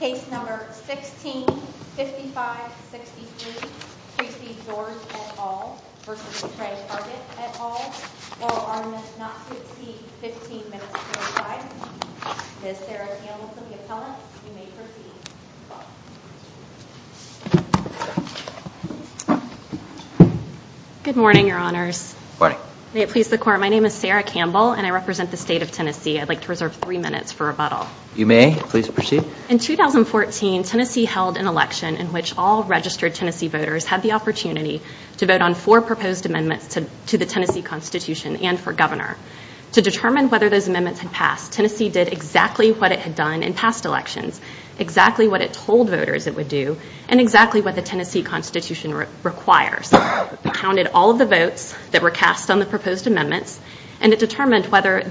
Case number 165563, Tracey George v. Tre Hargett et al, oral arguments not to exceed 15 minutes 25. Ms. Sarah Campbell is the appellant. You may proceed. Good morning, your honors. May it please the court, my name is Sarah Campbell and I represent the state of Tennessee. I'd like to reserve three minutes for rebuttal. In 2014, Tennessee held an election in which all registered Tennessee voters had the opportunity to vote on four proposed amendments to the Tennessee Constitution and for governor. To determine whether those amendments had passed, Tennessee did exactly what it had done in past elections, exactly what it told voters it would do, and exactly what the Tennessee Constitution requires. It counted all of the votes that were cast on the proposed amendments and it determined whether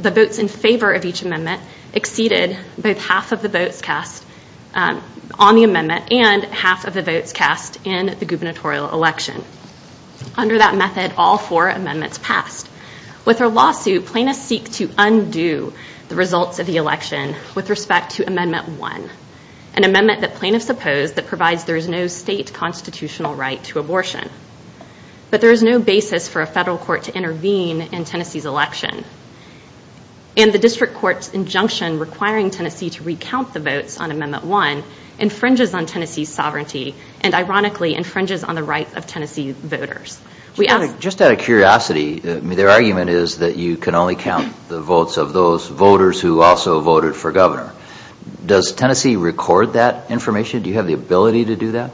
the votes in favor of each amendment exceeded both half of the votes cast on the amendment and half of the votes cast in the gubernatorial election. Under that method, all four amendments passed. With her lawsuit, plaintiffs seek to undo the results of the election with respect to Amendment 1, an amendment that plaintiffs oppose that provides there is no state constitutional right to abortion. But there is no basis for a federal court to intervene in Tennessee's election. And the district court's injunction requiring Tennessee to recount the votes on Amendment 1 infringes on Tennessee's sovereignty and ironically infringes on the rights of Tennessee voters. Just out of curiosity, their argument is that you can only count the votes of those voters who also voted for governor. Does Tennessee record that information? Do you have the ability to do that?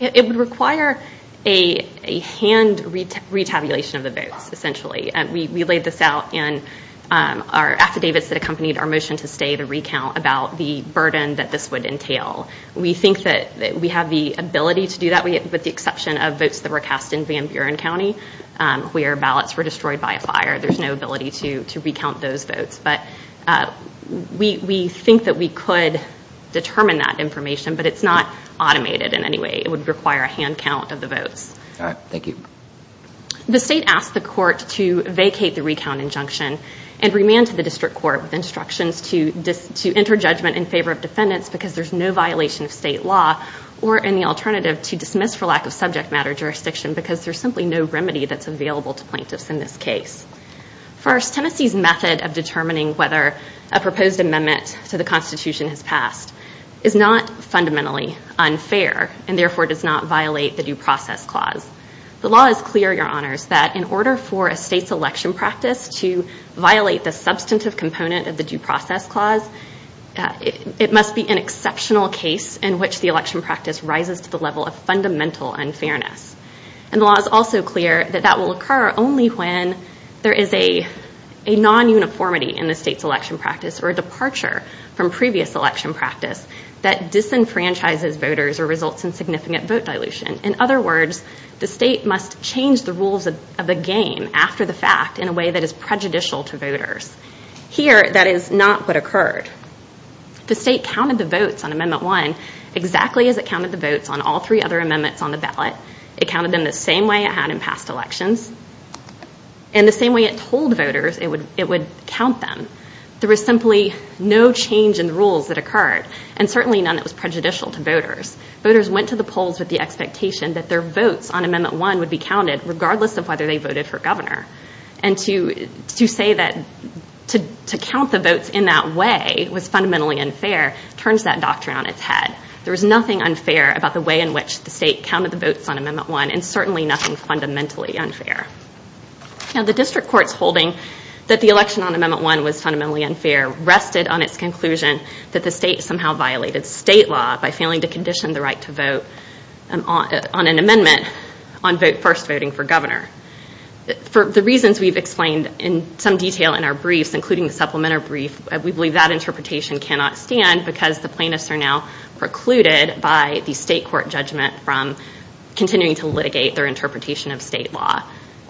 It would require a hand retabulation of the votes, essentially. We laid this out in our affidavits that accompanied our motion to stay to recount about the burden that this would entail. We think that we have the ability to do that with the exception of votes that were cast in Van Buren County, where ballots were destroyed by a fire. There's no ability to recount those votes. But we think that we could determine that information, but it's not automated in any way. It would require a hand count of the votes. The state asked the court to vacate the recount injunction and remand to the district court with instructions to enter judgment in favor of defendants because there's no violation of state law or any alternative to dismiss for lack of subject matter jurisdiction because there's simply no remedy that's available to plaintiffs in this case. First, Tennessee's method of determining whether a proposed amendment to the Constitution has passed is not fundamentally unfair and therefore does not violate the Due Process Clause. The law is clear, Your Honors, that in order for a state's election practice to violate the substantive component of the Due Process Clause, it must be an exceptional case in which the election practice rises to the level of fundamental unfairness. And the law is also clear that that will occur only when there is a non-uniformity in the state's election practice or a departure from previous election practice that disenfranchises voters or results in significant vote dilution. In other words, the state must change the rules of the game after the fact in a way that is prejudicial to voters. Here, that is not what occurred. The state counted the votes on Amendment 1 exactly as it counted the votes on all three other amendments on the ballot. It counted them the same way it had in past elections and the same way it told voters it would count them. There was simply no change in the rules that occurred and certainly none that was prejudicial to voters. Voters went to the polls with the expectation that their votes on Amendment 1 would be counted regardless of whether they voted for governor. And to say that to count the votes in that way was fundamentally unfair turns that doctrine on its head. There was nothing unfair about the way in which the state counted the votes on Amendment 1 and certainly nothing fundamentally unfair. Now the district court's holding that the election on Amendment 1 was fundamentally unfair rested on its conclusion that the state somehow violated state law by failing to condition the right to vote on an amendment on first voting for governor. For the reasons we've explained in some detail in our briefs, including the supplementary brief, we believe that interpretation cannot stand because the plaintiffs are now precluded by the state court judgment from continuing to litigate their interpretation of state law.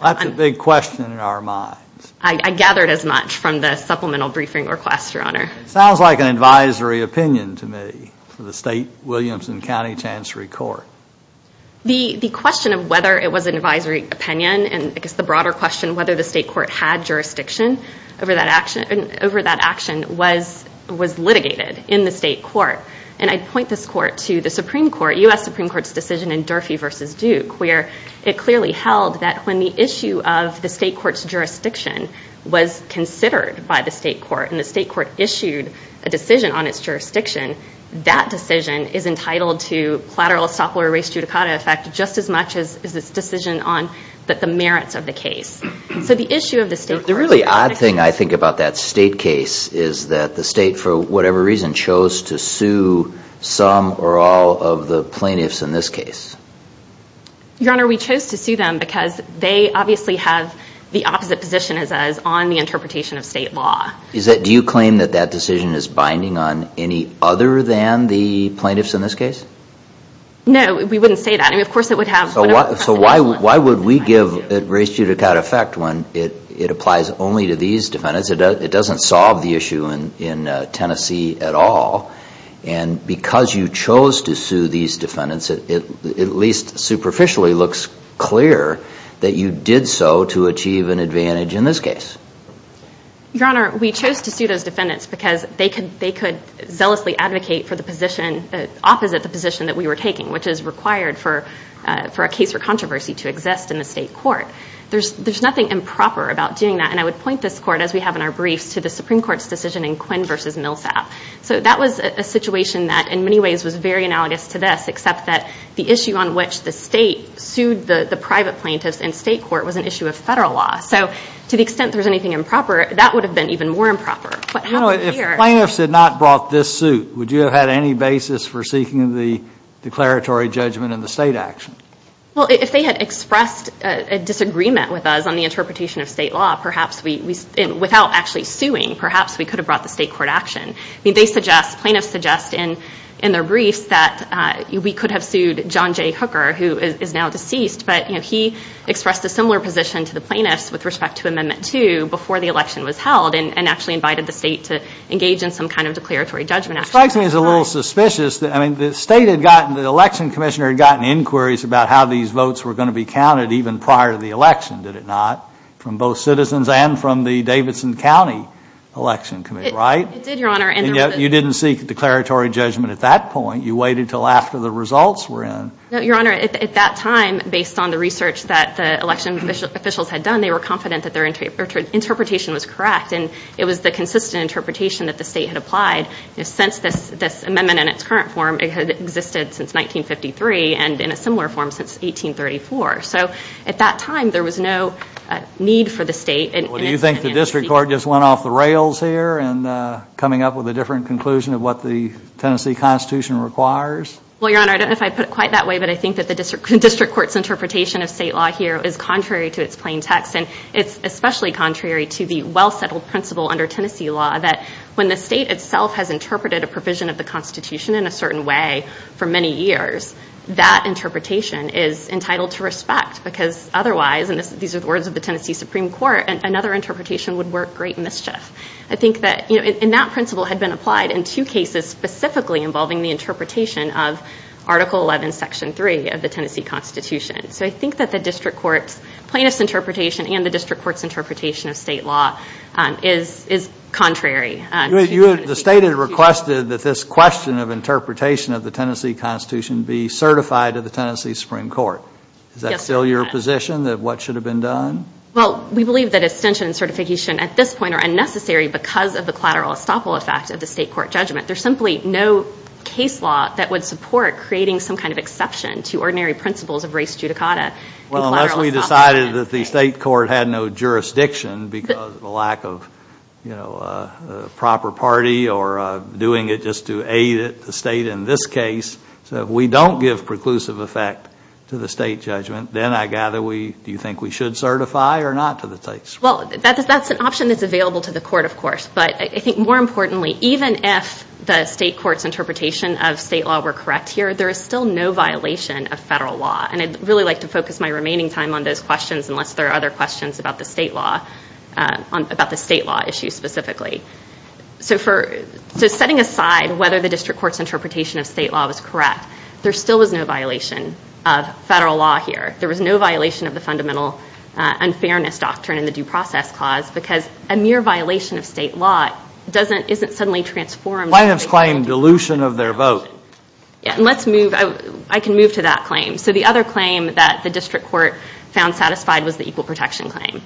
That's a big question in our minds. I gathered as much from the supplemental briefing request, Your Honor. It sounds like an advisory opinion to me for the state Williamson County Chancery Court. The question of whether it was an advisory opinion and I guess the broader question whether the state court had jurisdiction over that action was litigated in the state court. And I point this court to the Supreme Court, U.S. Supreme Court's decision in Durfee v. Duke where it clearly held that when the issue of the state court's jurisdiction was considered by the state court and the state court issued a decision on its jurisdiction, that decision is entitled to collateral estoppel or res judicata effect just as much as its decision on the merits of the case. The really odd thing I think about that state case is that the state for whatever reason chose to sue some or all of the plaintiffs in this case. Your Honor, we chose to sue them because they obviously have the opposite position as us on the interpretation of state law. Do you claim that that decision is binding on any other than the plaintiffs in this case? No, we wouldn't say that. So why would we give res judicata effect when it applies only to these defendants? It doesn't solve the issue in Tennessee at all. And because you chose to sue these defendants, it at least superficially looks clear that you did so to achieve an advantage in this case. Your Honor, we chose to sue those defendants because they could zealously advocate for the position opposite the position that we were taking, which is required for a case for controversy to exist in the state court. There's nothing improper about doing that. And I would point this court, as we have in our briefs, to the Supreme Court's decision in Quinn v. Millsap. So that was a situation that in many ways was very analogous to this, except that the issue on which the state sued the private plaintiffs in state court was an issue of federal law. So to the extent there was anything improper, that would have been even more improper. If plaintiffs had not brought this suit, would you have had any basis for seeking the declaratory judgment in the state action? Well, if they had expressed a disagreement with us on the interpretation of state law, perhaps without actually suing, perhaps we could have brought the state court action. Plaintiffs suggest in their briefs that we could have sued John J. Hooker, who is now deceased. But he expressed a similar position to the plaintiffs with respect to Amendment 2 before the election was held and actually invited the state to engage in some kind of declaratory judgment action. It strikes me as a little suspicious. The election commissioner had gotten inquiries about how these votes were going to be counted even prior to the election, did it not, from both citizens and from the Davidson County Election Committee, right? It did, Your Honor. And yet you didn't seek a declaratory judgment at that point. You waited until after the results were in. No, Your Honor. At that time, based on the research that the election officials had done, they were confident that their interpretation was correct. And it was the consistent interpretation that the state had applied. Since this amendment in its current form, it had existed since 1953 and in a similar form since 1834. So at that time, there was no need for the state. Well, do you think the district court just went off the rails here in coming up with a different conclusion of what the Tennessee Constitution requires? Well, Your Honor, I don't know if I put it quite that way, but I think that the district court's interpretation of state law here is contrary to its plain text. And it's especially contrary to the well-settled principle under Tennessee law that when the state itself has interpreted a provision of the Constitution in a certain way for many years, that interpretation is entitled to respect. Because otherwise, and these are the words of the Tennessee Supreme Court, another interpretation would work great mischief. I think that, you know, and that principle had been applied in two cases specifically involving the interpretation of Article 11, Section 3 of the Tennessee Constitution. So I think that the district court's plaintiff's interpretation and the district court's interpretation of state law is contrary. The state had requested that this question of interpretation of the Tennessee Constitution be certified to the Tennessee Supreme Court. Is that still your position that what should have been done? Well, we believe that extension and certification at this point are unnecessary because of the collateral estoppel effect of the state court judgment. There's simply no case law that would support creating some kind of exception to ordinary principles of res judicata and collateral estoppel. Well, we decided that the state court had no jurisdiction because of the lack of, you know, a proper party or doing it just to aid the state in this case. So if we don't give preclusive effect to the state judgment, then I gather we, do you think we should certify or not to the states? Well, that's an option that's available to the court, of course. But I think more importantly, even if the state court's interpretation of state law were correct here, there is still no violation of federal law. And I'd really like to focus my remaining time on those questions unless there are other questions about the state law, about the state law issue specifically. So for, so setting aside whether the district court's interpretation of state law was correct, there still was no violation of federal law here. There was no violation of the fundamental unfairness doctrine in the due process clause because a mere violation of state law doesn't, isn't suddenly transformed. Plaintiffs claim dilution of their vote. Yeah, and let's move, I can move to that claim. So the other claim that the district court found satisfied was the equal protection claim.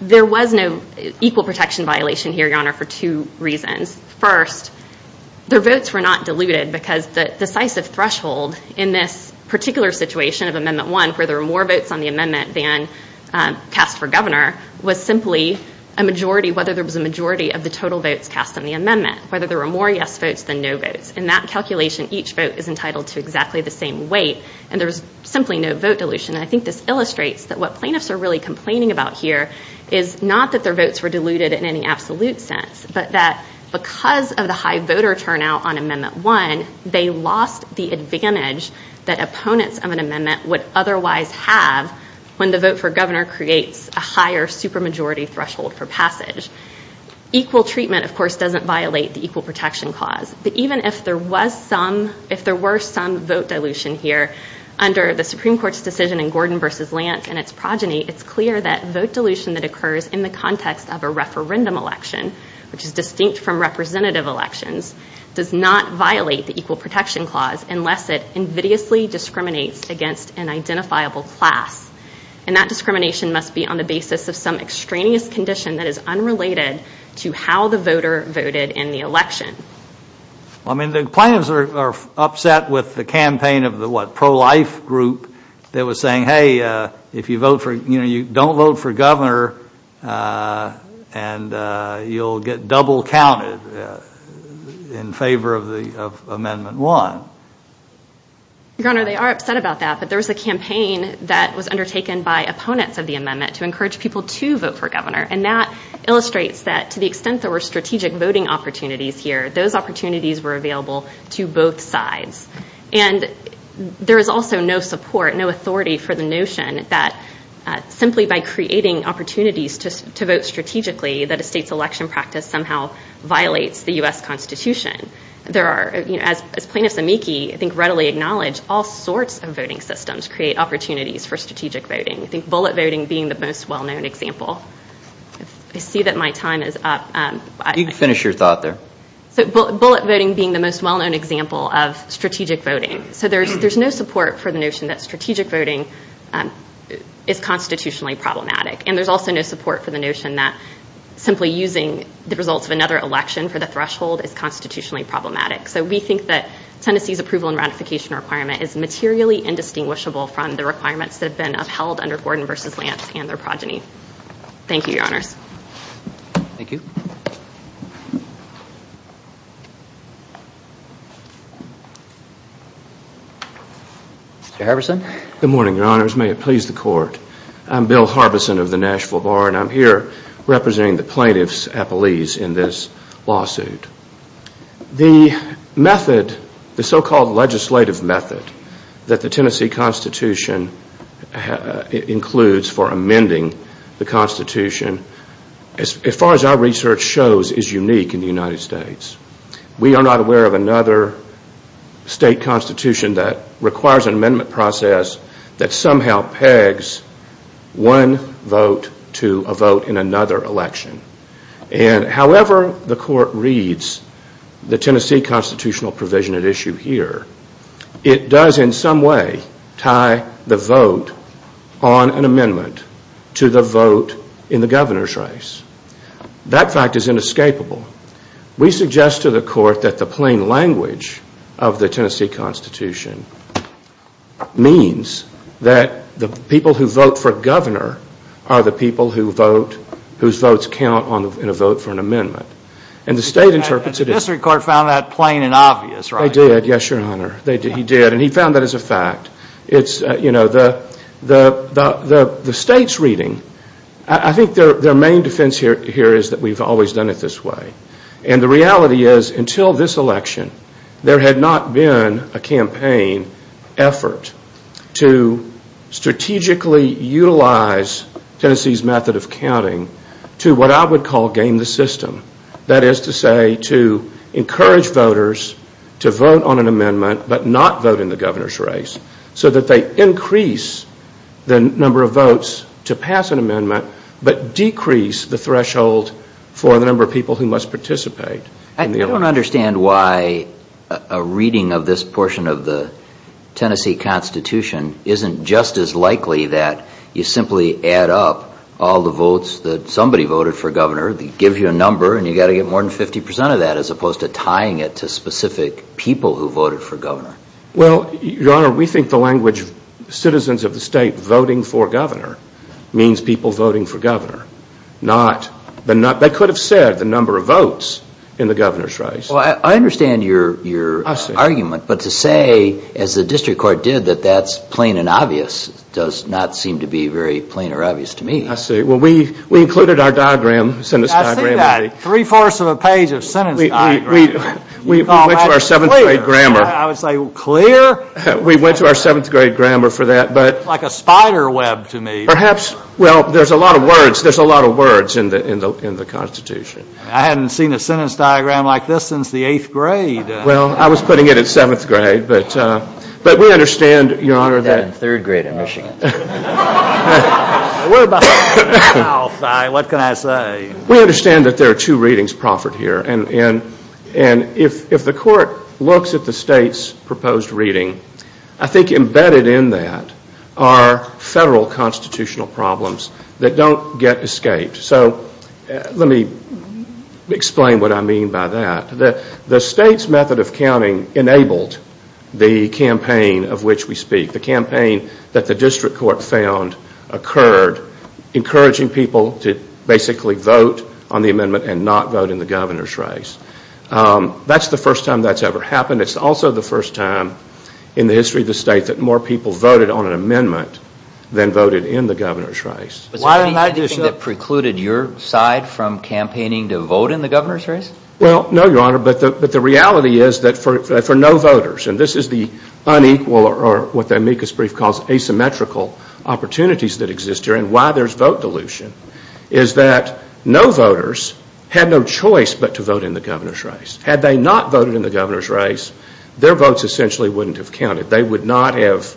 There was no equal protection violation here, Your Honor, for two reasons. First, their votes were not diluted because the decisive threshold in this particular situation of Amendment 1, where there were more votes on the amendment than cast for governor, was simply a majority, whether there was a majority of the total votes cast on the amendment, whether there were more yes votes than no votes. In that calculation, each vote is entitled to exactly the same weight, and there was simply no vote dilution. And I think this illustrates that what plaintiffs are really complaining about here is not that their votes were diluted in any absolute sense, but that because of the high voter turnout on Amendment 1, they lost the advantage that opponents of an amendment would otherwise have when the vote for governor creates a higher super majority threshold for passage. Equal treatment, of course, doesn't violate the equal protection clause. But even if there were some vote dilution here under the Supreme Court's decision in Gordon v. Lance and its progeny, it's clear that vote dilution that occurs in the context of a referendum election, which is distinct from representative elections, does not violate the equal protection clause unless it invidiously discriminates against an identifiable class. And that discrimination must be on the basis of some extraneous condition that is unrelated to how the voter voted in the election. Well, I mean, the plaintiffs are upset with the campaign of the, what, pro-life group that was saying, hey, if you vote for, you know, you don't vote for governor and you'll get double counted in favor of Amendment 1. Your Honor, they are upset about that. But there was a campaign that was undertaken by opponents of the amendment to encourage people to vote for governor. And that illustrates that to the extent there were strategic voting opportunities here, those opportunities were available to both sides. And there is also no support, no authority for the notion that simply by creating opportunities to vote strategically, that a state's election practice somehow violates the U.S. Constitution. There are, you know, as Plaintiffs' Amici I think readily acknowledge, all sorts of voting systems create opportunities for strategic voting. I think bullet voting being the most well-known example. I see that my time is up. You can finish your thought there. So bullet voting being the most well-known example of strategic voting. So there's no support for the notion that strategic voting is constitutionally problematic. And there's also no support for the notion that simply using the results of another election for the threshold is constitutionally problematic. So we think that Tennessee's approval and ratification requirement is materially indistinguishable from the requirements that have been upheld under Gordon v. Lance and their progeny. Thank you, Your Honors. Thank you. Mr. Harbison. Good morning, Your Honors. May it please the Court. I'm Bill Harbison of the Nashville Bar, and I'm here representing the plaintiffs' appellees in this lawsuit. The method, the so-called legislative method, that the Tennessee Constitution includes for amending the Constitution, as far as our research shows, is unique in the United States. We are not aware of another state constitution that requires an amendment process that somehow pegs one vote to a vote in another election. And however the Court reads the Tennessee constitutional provision at issue here, it does in some way tie the vote on an amendment to the vote in the governor's race. That fact is inescapable. We suggest to the Court that the plain language of the Tennessee Constitution means that the people who vote for governor are the people whose votes count in a vote for an amendment. And the State interprets it as... And the District Court found that plain and obvious, right? They did, yes, Your Honor. They did. He did, and he found that as a fact. The State's reading, I think their main defense here is that we've always done it this way. And the reality is, until this election, there had not been a campaign effort to strategically utilize Tennessee's method of counting to what I would call game the system. That is to say, to encourage voters to vote on an amendment but not vote in the governor's race so that they increase the number of votes to pass an amendment but decrease the threshold for the number of people who must participate. I don't understand why a reading of this portion of the Tennessee Constitution isn't just as likely that you simply add up all the votes that somebody voted for governor, it gives you a number, and you've got to get more than 50% of that as opposed to tying it to specific people who voted for governor. Well, Your Honor, we think the language of citizens of the State voting for governor means people voting for governor, not... They could have said the number of votes in the governor's race. Well, I understand your argument, but to say, as the District Court did, that that's plain and obvious does not seem to be very plain or obvious to me. I see. Well, we included our sentence diagram. I see that. Three-fourths of a page of sentence diagram. We went to our seventh-grade grammar. I would say clear. We went to our seventh-grade grammar for that, but... Like a spider web to me. Perhaps. Well, there's a lot of words. There's a lot of words in the Constitution. I hadn't seen a sentence diagram like this since the eighth grade. Well, I was putting it at seventh grade, but we understand, Your Honor, that... What can I say? We understand that there are two readings proffered here, and if the Court looks at the State's proposed reading, I think embedded in that are federal constitutional problems that don't get escaped. So let me explain what I mean by that. The State's method of counting enabled the campaign of which we speak, the campaign that the District Court found occurred, encouraging people to basically vote on the amendment and not vote in the governor's race. That's the first time that's ever happened. It's also the first time in the history of the State that more people voted on an amendment than voted in the governor's race. Was there anything that precluded your side from campaigning to vote in the governor's race? Well, no, Your Honor, but the reality is that for no voters, and this is the unequal or what the amicus brief calls asymmetrical opportunities that exist here and why there's vote dilution, is that no voters had no choice but to vote in the governor's race. Had they not voted in the governor's race, their votes essentially wouldn't have counted. They would not have...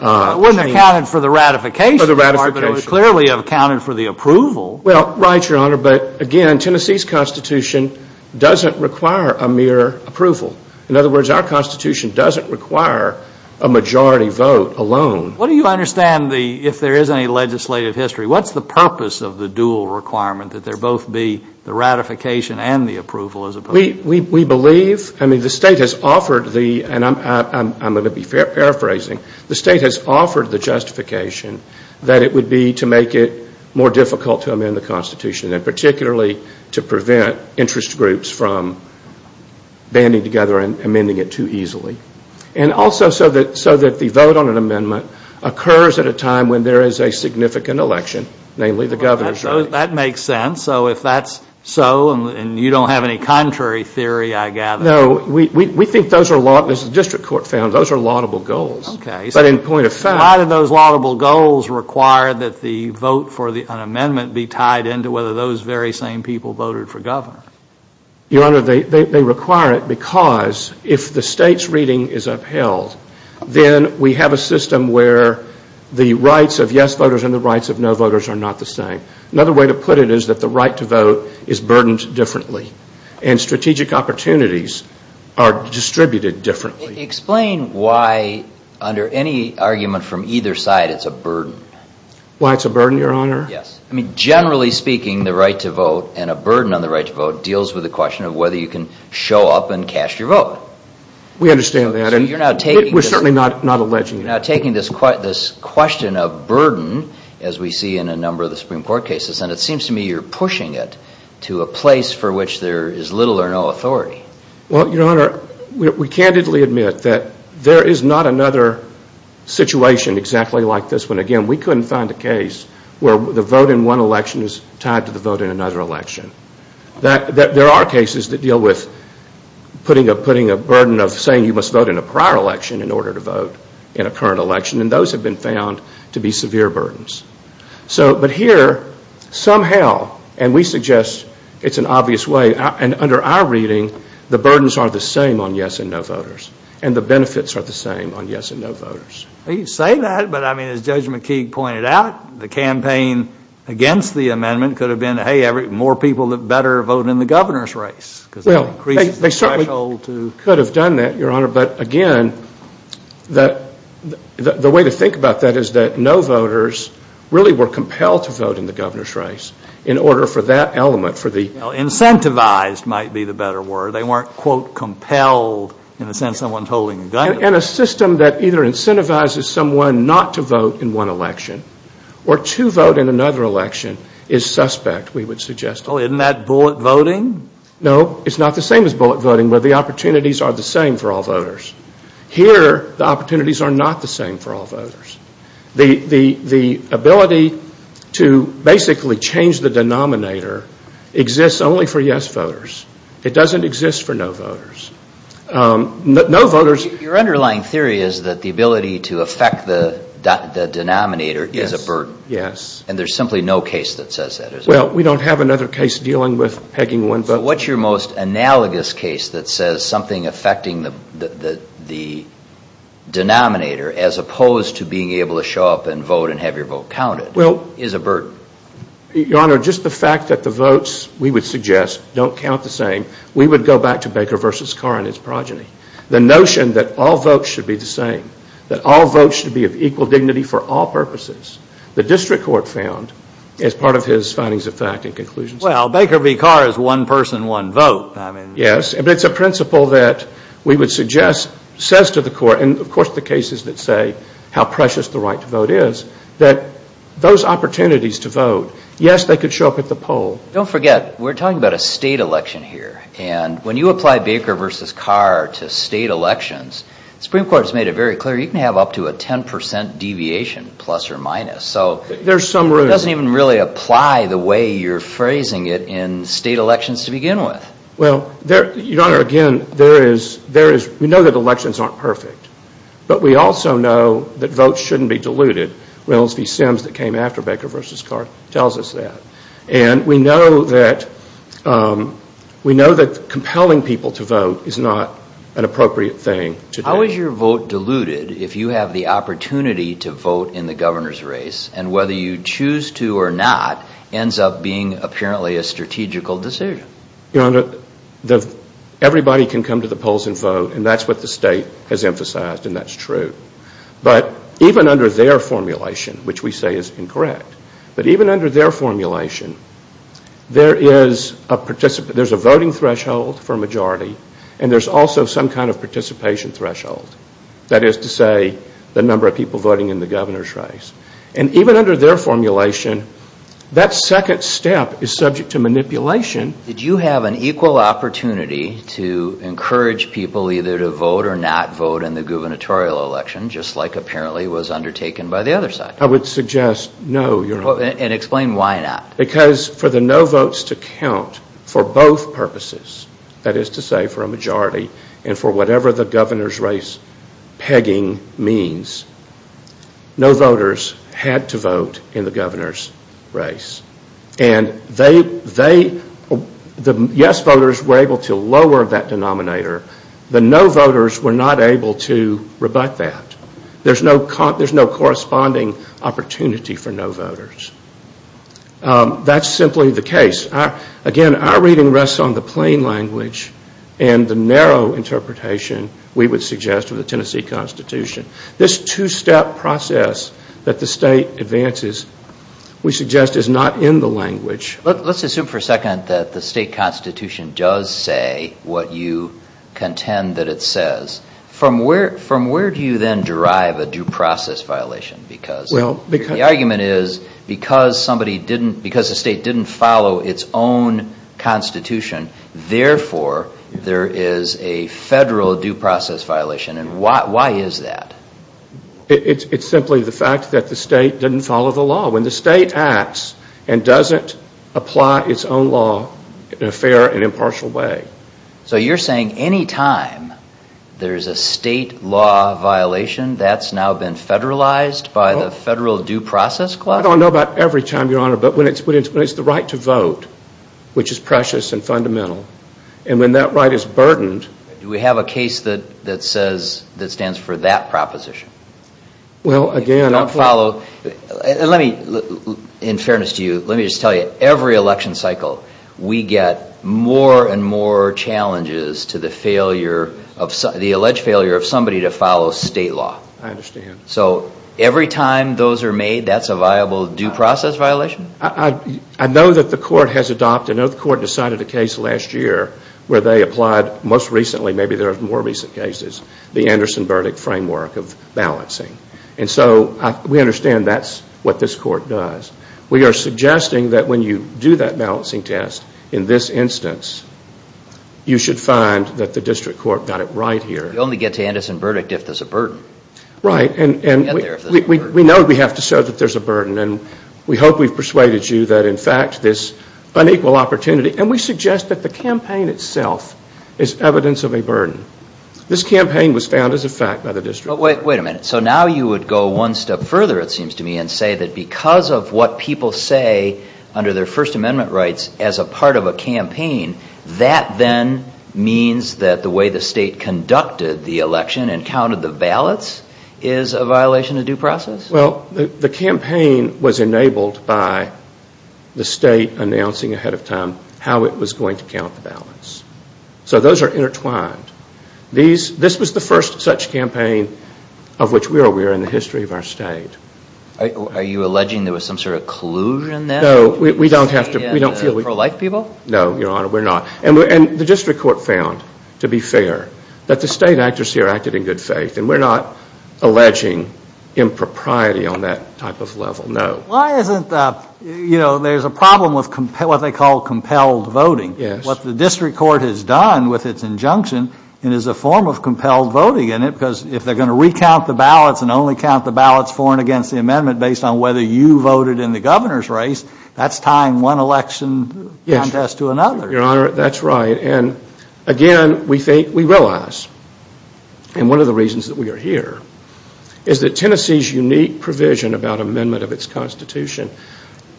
They wouldn't have counted for the ratification. For the ratification. They would clearly have counted for the approval. Well, right, Your Honor, but again, Tennessee's Constitution doesn't require a mere approval. In other words, our Constitution doesn't require a majority vote alone. What do you understand if there is any legislative history? What's the purpose of the dual requirement that there both be the ratification and the approval? We believe, I mean, the State has offered the, and I'm going to be paraphrasing, the State has offered the justification that it would be to make it more difficult to amend the Constitution and particularly to prevent interest groups from banding together and amending it too easily. And also so that the vote on an amendment occurs at a time when there is a significant election, namely the governor's race. That makes sense. So if that's so and you don't have any contrary theory, I gather. No. We think those are, as the district court found, those are laudable goals. Okay. But in point of fact... Those very same people voted for governor. Your Honor, they require it because if the State's reading is upheld, then we have a system where the rights of yes voters and the rights of no voters are not the same. Another way to put it is that the right to vote is burdened differently and strategic opportunities are distributed differently. Explain why under any argument from either side it's a burden. Why it's a burden, Your Honor? Yes. Generally speaking, the right to vote and a burden on the right to vote deals with the question of whether you can show up and cast your vote. We understand that. We're certainly not alleging that. You're now taking this question of burden, as we see in a number of the Supreme Court cases, and it seems to me you're pushing it to a place for which there is little or no authority. Well, Your Honor, we candidly admit that there is not another situation exactly like this one. Again, we couldn't find a case where the vote in one election is tied to the vote in another election. There are cases that deal with putting a burden of saying you must vote in a prior election in order to vote in a current election, and those have been found to be severe burdens. But here, somehow, and we suggest it's an obvious way, and under our reading, the burdens are the same on yes and no voters, and the benefits are the same on yes and no voters. You say that, but, I mean, as Judge McKeague pointed out, the campaign against the amendment could have been, hey, more people that better vote in the governor's race because that increases the threshold to. Well, they certainly could have done that, Your Honor, but, again, the way to think about that is that no voters really were compelled to vote in the governor's race in order for that element for the. Well, incentivized might be the better word. They weren't, quote, compelled in the sense someone's holding a gun to them. And a system that either incentivizes someone not to vote in one election or to vote in another election is suspect, we would suggest. Well, isn't that bullet voting? No, it's not the same as bullet voting, but the opportunities are the same for all voters. Here, the opportunities are not the same for all voters. The ability to basically change the denominator exists only for yes voters. It doesn't exist for no voters. No voters. Your underlying theory is that the ability to affect the denominator is a burden. Yes. And there's simply no case that says that, is there? Well, we don't have another case dealing with pegging one vote. So what's your most analogous case that says something affecting the denominator as opposed to being able to show up and vote and have your vote counted is a burden? Your Honor, just the fact that the votes, we would suggest, don't count the same, we would go back to Baker v. Carr and his progeny. The notion that all votes should be the same, that all votes should be of equal dignity for all purposes, the district court found as part of his findings of fact and conclusions. Well, Baker v. Carr is one person, one vote. Yes, but it's a principle that we would suggest says to the court, and of course the cases that say how precious the right to vote is, that those opportunities to vote, yes, they could show up at the poll. Don't forget, we're talking about a state election here. And when you apply Baker v. Carr to state elections, the Supreme Court has made it very clear you can have up to a 10% deviation, plus or minus. So it doesn't even really apply the way you're phrasing it in state elections to begin with. Well, Your Honor, again, we know that elections aren't perfect. But we also know that votes shouldn't be diluted. Reynolds v. Sims that came after Baker v. Carr tells us that. And we know that compelling people to vote is not an appropriate thing to do. How is your vote diluted if you have the opportunity to vote in the governor's race and whether you choose to or not ends up being apparently a strategical decision? Your Honor, everybody can come to the polls and vote, and that's what the state has emphasized, and that's true. But even under their formulation, which we say is incorrect, but even under their formulation, there's a voting threshold for a majority, and there's also some kind of participation threshold, that is to say the number of people voting in the governor's race. And even under their formulation, that second step is subject to manipulation. Did you have an equal opportunity to encourage people either to vote or not vote in the gubernatorial election, just like apparently was undertaken by the other side? I would suggest no, Your Honor. And explain why not. Because for the no votes to count for both purposes, that is to say for a majority and for whatever the governor's race pegging means, no voters had to vote in the governor's race. And the yes voters were able to lower that denominator. The no voters were not able to rebut that. There's no corresponding opportunity for no voters. That's simply the case. Again, our reading rests on the plain language and the narrow interpretation we would suggest of the Tennessee Constitution. This two-step process that the state advances, we suggest, is not in the language. Let's assume for a second that the state constitution does say what you contend that it says. From where do you then derive a due process violation? The argument is because the state didn't follow its own constitution, therefore there is a federal due process violation. And why is that? It's simply the fact that the state didn't follow the law. When the state acts and doesn't apply its own law in a fair and impartial way. So you're saying any time there's a state law violation, that's now been federalized by the federal due process clause? I don't know about every time, Your Honor, but when it's the right to vote, which is precious and fundamental, and when that right is burdened... Do we have a case that stands for that proposition? Well, again... If you don't follow... In fairness to you, let me just tell you, every election cycle we get more and more challenges to the alleged failure of somebody to follow state law. I understand. So every time those are made, that's a viable due process violation? I know that the court has adopted... I know the court decided a case last year where they applied, most recently, maybe there are more recent cases, the Anderson verdict framework of balancing. And so we understand that's what this court does. We are suggesting that when you do that balancing test, in this instance, you should find that the district court got it right here. You only get to Anderson verdict if there's a burden. Right. And we know we have to show that there's a burden, and we hope we've persuaded you that, in fact, this unequal opportunity... And we suggest that the campaign itself is evidence of a burden. This campaign was found as a fact by the district court. Wait a minute. So now you would go one step further, it seems to me, and say that because of what people say under their First Amendment rights as a part of a campaign, that then means that the way the state conducted the election and counted the ballots is a violation of due process? Well, the campaign was enabled by the state announcing ahead of time how it was going to count the ballots. So those are intertwined. This was the first such campaign of which we are aware in the history of our state. Are you alleging there was some sort of collusion there? No. We don't feel we... Pro-life people? No, Your Honor, we're not. And the district court found, to be fair, that the state actors here acted in good faith, and we're not alleging impropriety on that type of level, no. Why isn't that, you know, there's a problem with what they call compelled voting. Yes. What the district court has done with its injunction, it is a form of compelled voting in it based on whether you voted in the governor's race. That's tying one election contest to another. Yes, Your Honor, that's right. And, again, we think, we realize, and one of the reasons that we are here, is that Tennessee's unique provision about amendment of its Constitution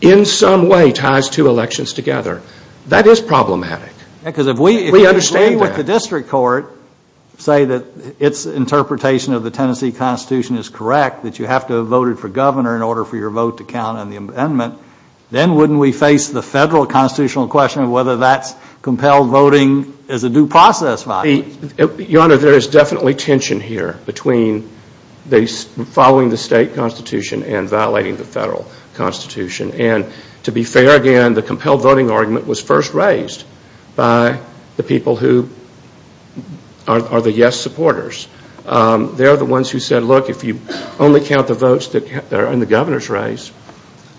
in some way ties two elections together. That is problematic. We understand that. Because if we agree with the district court, say that its interpretation of the Tennessee Constitution is correct, that you have to have voted for governor in order for your vote to count on the amendment, then wouldn't we face the federal constitutional question of whether that's compelled voting as a due process violation? Your Honor, there is definitely tension here between following the state Constitution and violating the federal Constitution. And, to be fair, again, the compelled voting argument was first raised by the people who are the yes supporters. They are the ones who said, look, if you only count the votes that are in the governor's race,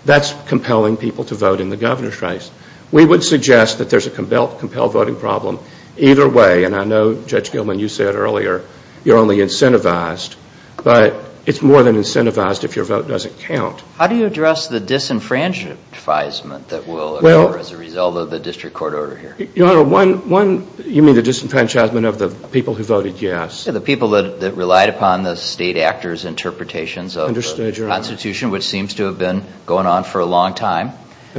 that's compelling people to vote in the governor's race. We would suggest that there's a compelled voting problem either way. And I know, Judge Gilman, you said earlier you're only incentivized. But it's more than incentivized if your vote doesn't count. How do you address the disenfranchisement that will occur as a result of the district court order here? Your Honor, you mean the disenfranchisement of the people who voted yes? The people that relied upon the state actors' interpretations of the Constitution, which seems to have been going on for a long time.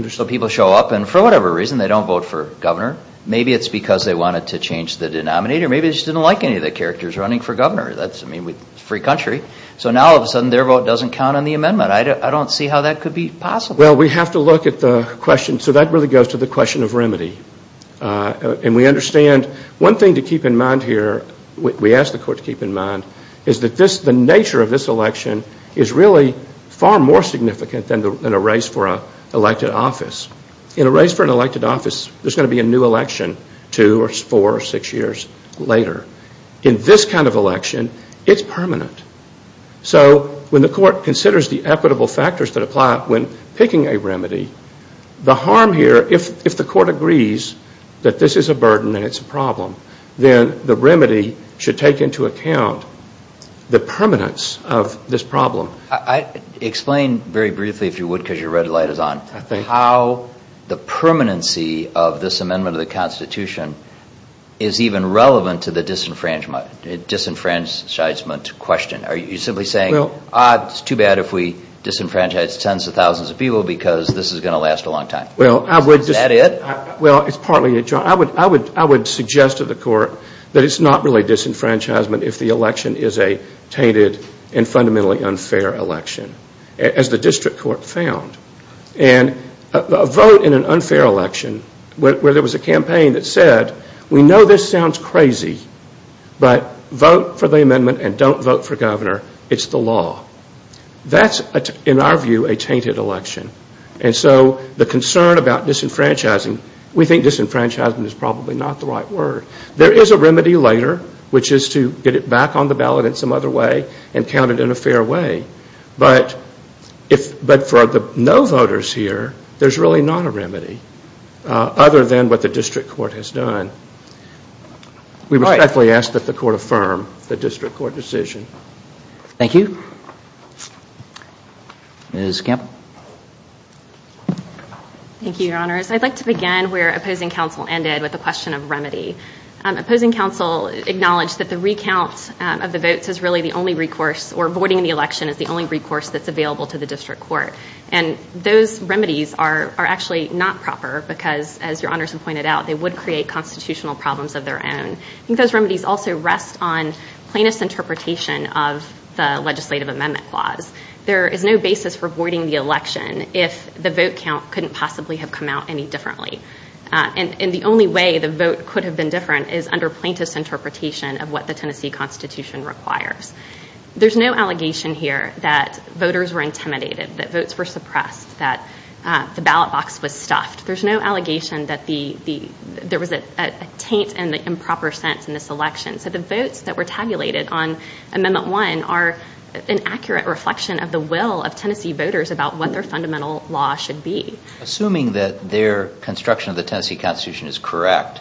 So people show up and, for whatever reason, they don't vote for governor. Maybe it's because they wanted to change the denominator. Maybe they just didn't like any of the characters running for governor. I mean, it's a free country. So now, all of a sudden, their vote doesn't count on the amendment. I don't see how that could be possible. Well, we have to look at the question. So that really goes to the question of remedy. And we understand one thing to keep in mind here, we ask the court to keep in mind, is that the nature of this election is really far more significant than a race for an elected office. In a race for an elected office, there's going to be a new election two or four or six years later. In this kind of election, it's permanent. So when the court considers the equitable factors that apply when picking a remedy, the harm here, if the court agrees that this is a burden and it's a problem, then the remedy should take into account the permanence of this problem. Explain very briefly, if you would, because your red light is on, how the permanency of this amendment of the Constitution is even relevant to the disenfranchisement question. Are you simply saying, it's too bad if we disenfranchise tens of thousands of people because this is going to last a long time? Is that it? Well, it's partly it, John. I would suggest to the court that it's not really disenfranchisement if the election is a tainted and fundamentally unfair election, as the district court found. And a vote in an unfair election where there was a campaign that said, we know this sounds crazy, but vote for the amendment and don't vote for governor, it's the law. That's, in our view, a tainted election. And so the concern about disenfranchising, we think disenfranchisement is probably not the right word. There is a remedy later, which is to get it back on the ballot in some other way and count it in a fair way. But for the no voters here, there's really not a remedy, other than what the district court has done. We respectfully ask that the court affirm the district court decision. Thank you. Thank you. Ms. Campbell. Thank you, Your Honors. I'd like to begin where opposing counsel ended with the question of remedy. Opposing counsel acknowledged that the recount of the votes is really the only recourse, or voting in the election is the only recourse that's available to the district court. And those remedies are actually not proper because, as Your Honors have pointed out, they would create constitutional problems of their own. And I think those remedies also rest on plaintiff's interpretation of the legislative amendment clause. There is no basis for voiding the election if the vote count couldn't possibly have come out any differently. And the only way the vote could have been different is under plaintiff's interpretation of what the Tennessee Constitution requires. There's no allegation here that voters were intimidated, that votes were suppressed, that the ballot box was stuffed. There's no allegation that there was a taint in the improper sense in this election. So the votes that were tabulated on Amendment 1 are an accurate reflection of the will of Tennessee voters about what their fundamental law should be. Assuming that their construction of the Tennessee Constitution is correct,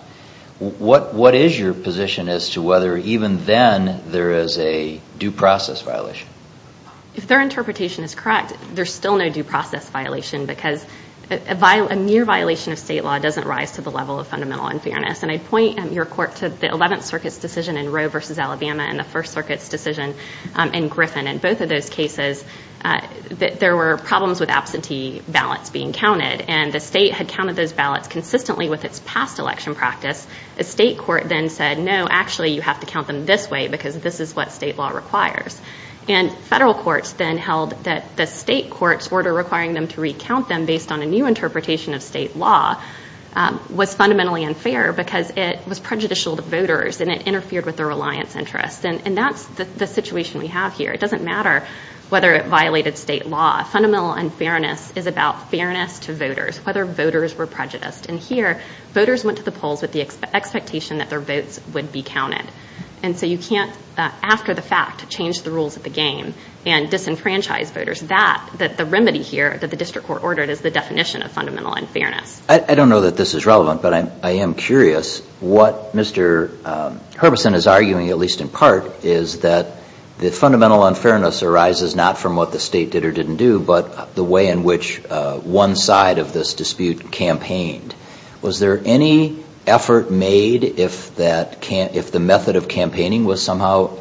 what is your position as to whether even then there is a due process violation? If their interpretation is correct, there's still no due process violation because a mere violation of state law doesn't rise to the level of fundamental unfairness. And I'd point your court to the Eleventh Circuit's decision in Roe v. Alabama and the First Circuit's decision in Griffin. In both of those cases, there were problems with absentee ballots being counted. And the state had counted those ballots consistently with its past election practice. The state court then said, no, actually you have to count them this way because this is what state law requires. And federal courts then held that the state court's order requiring them to recount them based on a new interpretation of state law was fundamentally unfair because it was prejudicial to voters and it interfered with their reliance interests. And that's the situation we have here. It doesn't matter whether it violated state law. Fundamental unfairness is about fairness to voters, whether voters were prejudiced. And here, voters went to the polls with the expectation that their votes would be counted. And so you can't, after the fact, change the rules of the game and disenfranchise voters. The remedy here that the district court ordered is the definition of fundamental unfairness. I don't know that this is relevant, but I am curious what Mr. Herbison is arguing, at least in part, is that the fundamental unfairness arises not from what the state did or didn't do, but the way in which one side of this dispute campaigned. Was there any effort made if the method of campaigning was somehow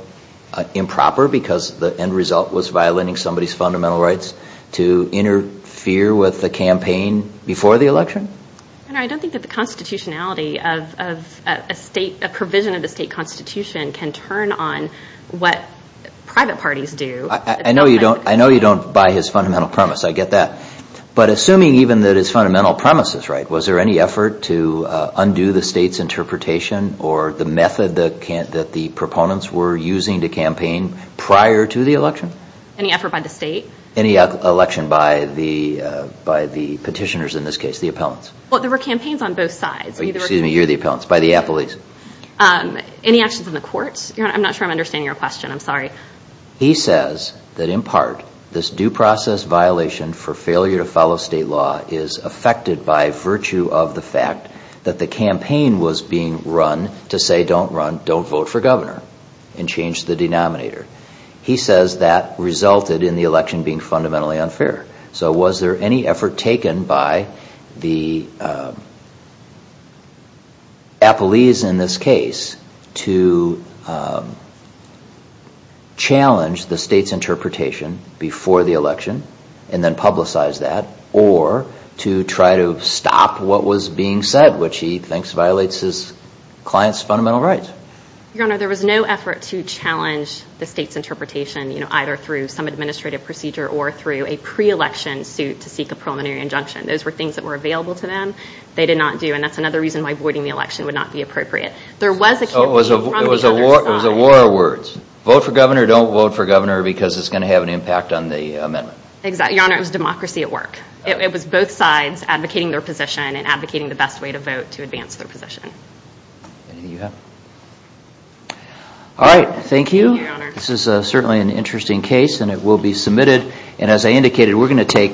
improper because the end result was violating somebody's fundamental rights to interfere with the campaign before the election? I don't think that the constitutionality of a provision of the state constitution can turn on what private parties do. I know you don't buy his fundamental premise. I get that. But assuming even that his fundamental premise is right, was there any effort to undo the state's interpretation or the method that the proponents were using to campaign prior to the election? Any effort by the state? Any election by the petitioners in this case, the appellants. Well, there were campaigns on both sides. Excuse me, you're the appellants. By the appellees. Any actions in the courts? I'm not sure I'm understanding your question. I'm sorry. He says that in part this due process violation for failure to follow state law is affected by virtue of the fact that the campaign was being run to say don't run, don't vote for governor and change the denominator. He says that resulted in the election being fundamentally unfair. So was there any effort taken by the appellees in this case to challenge the state's interpretation before the election and then publicize that or to try to stop what was being said, which he thinks violates his client's fundamental rights? Your Honor, there was no effort to challenge the state's interpretation, either through some administrative procedure or through a pre-election suit to seek a preliminary injunction. Those were things that were available to them. They did not do. And that's another reason why voiding the election would not be appropriate. There was a campaign from the other side. So it was a war of words. Vote for governor, don't vote for governor because it's going to have an impact on the amendment. Your Honor, it was democracy at work. It was both sides advocating their position and advocating the best way to vote to advance their position. Anything you have? All right. Thank you. Thank you, Your Honor. This is certainly an interesting case, and it will be submitted. And as I indicated, we're going to take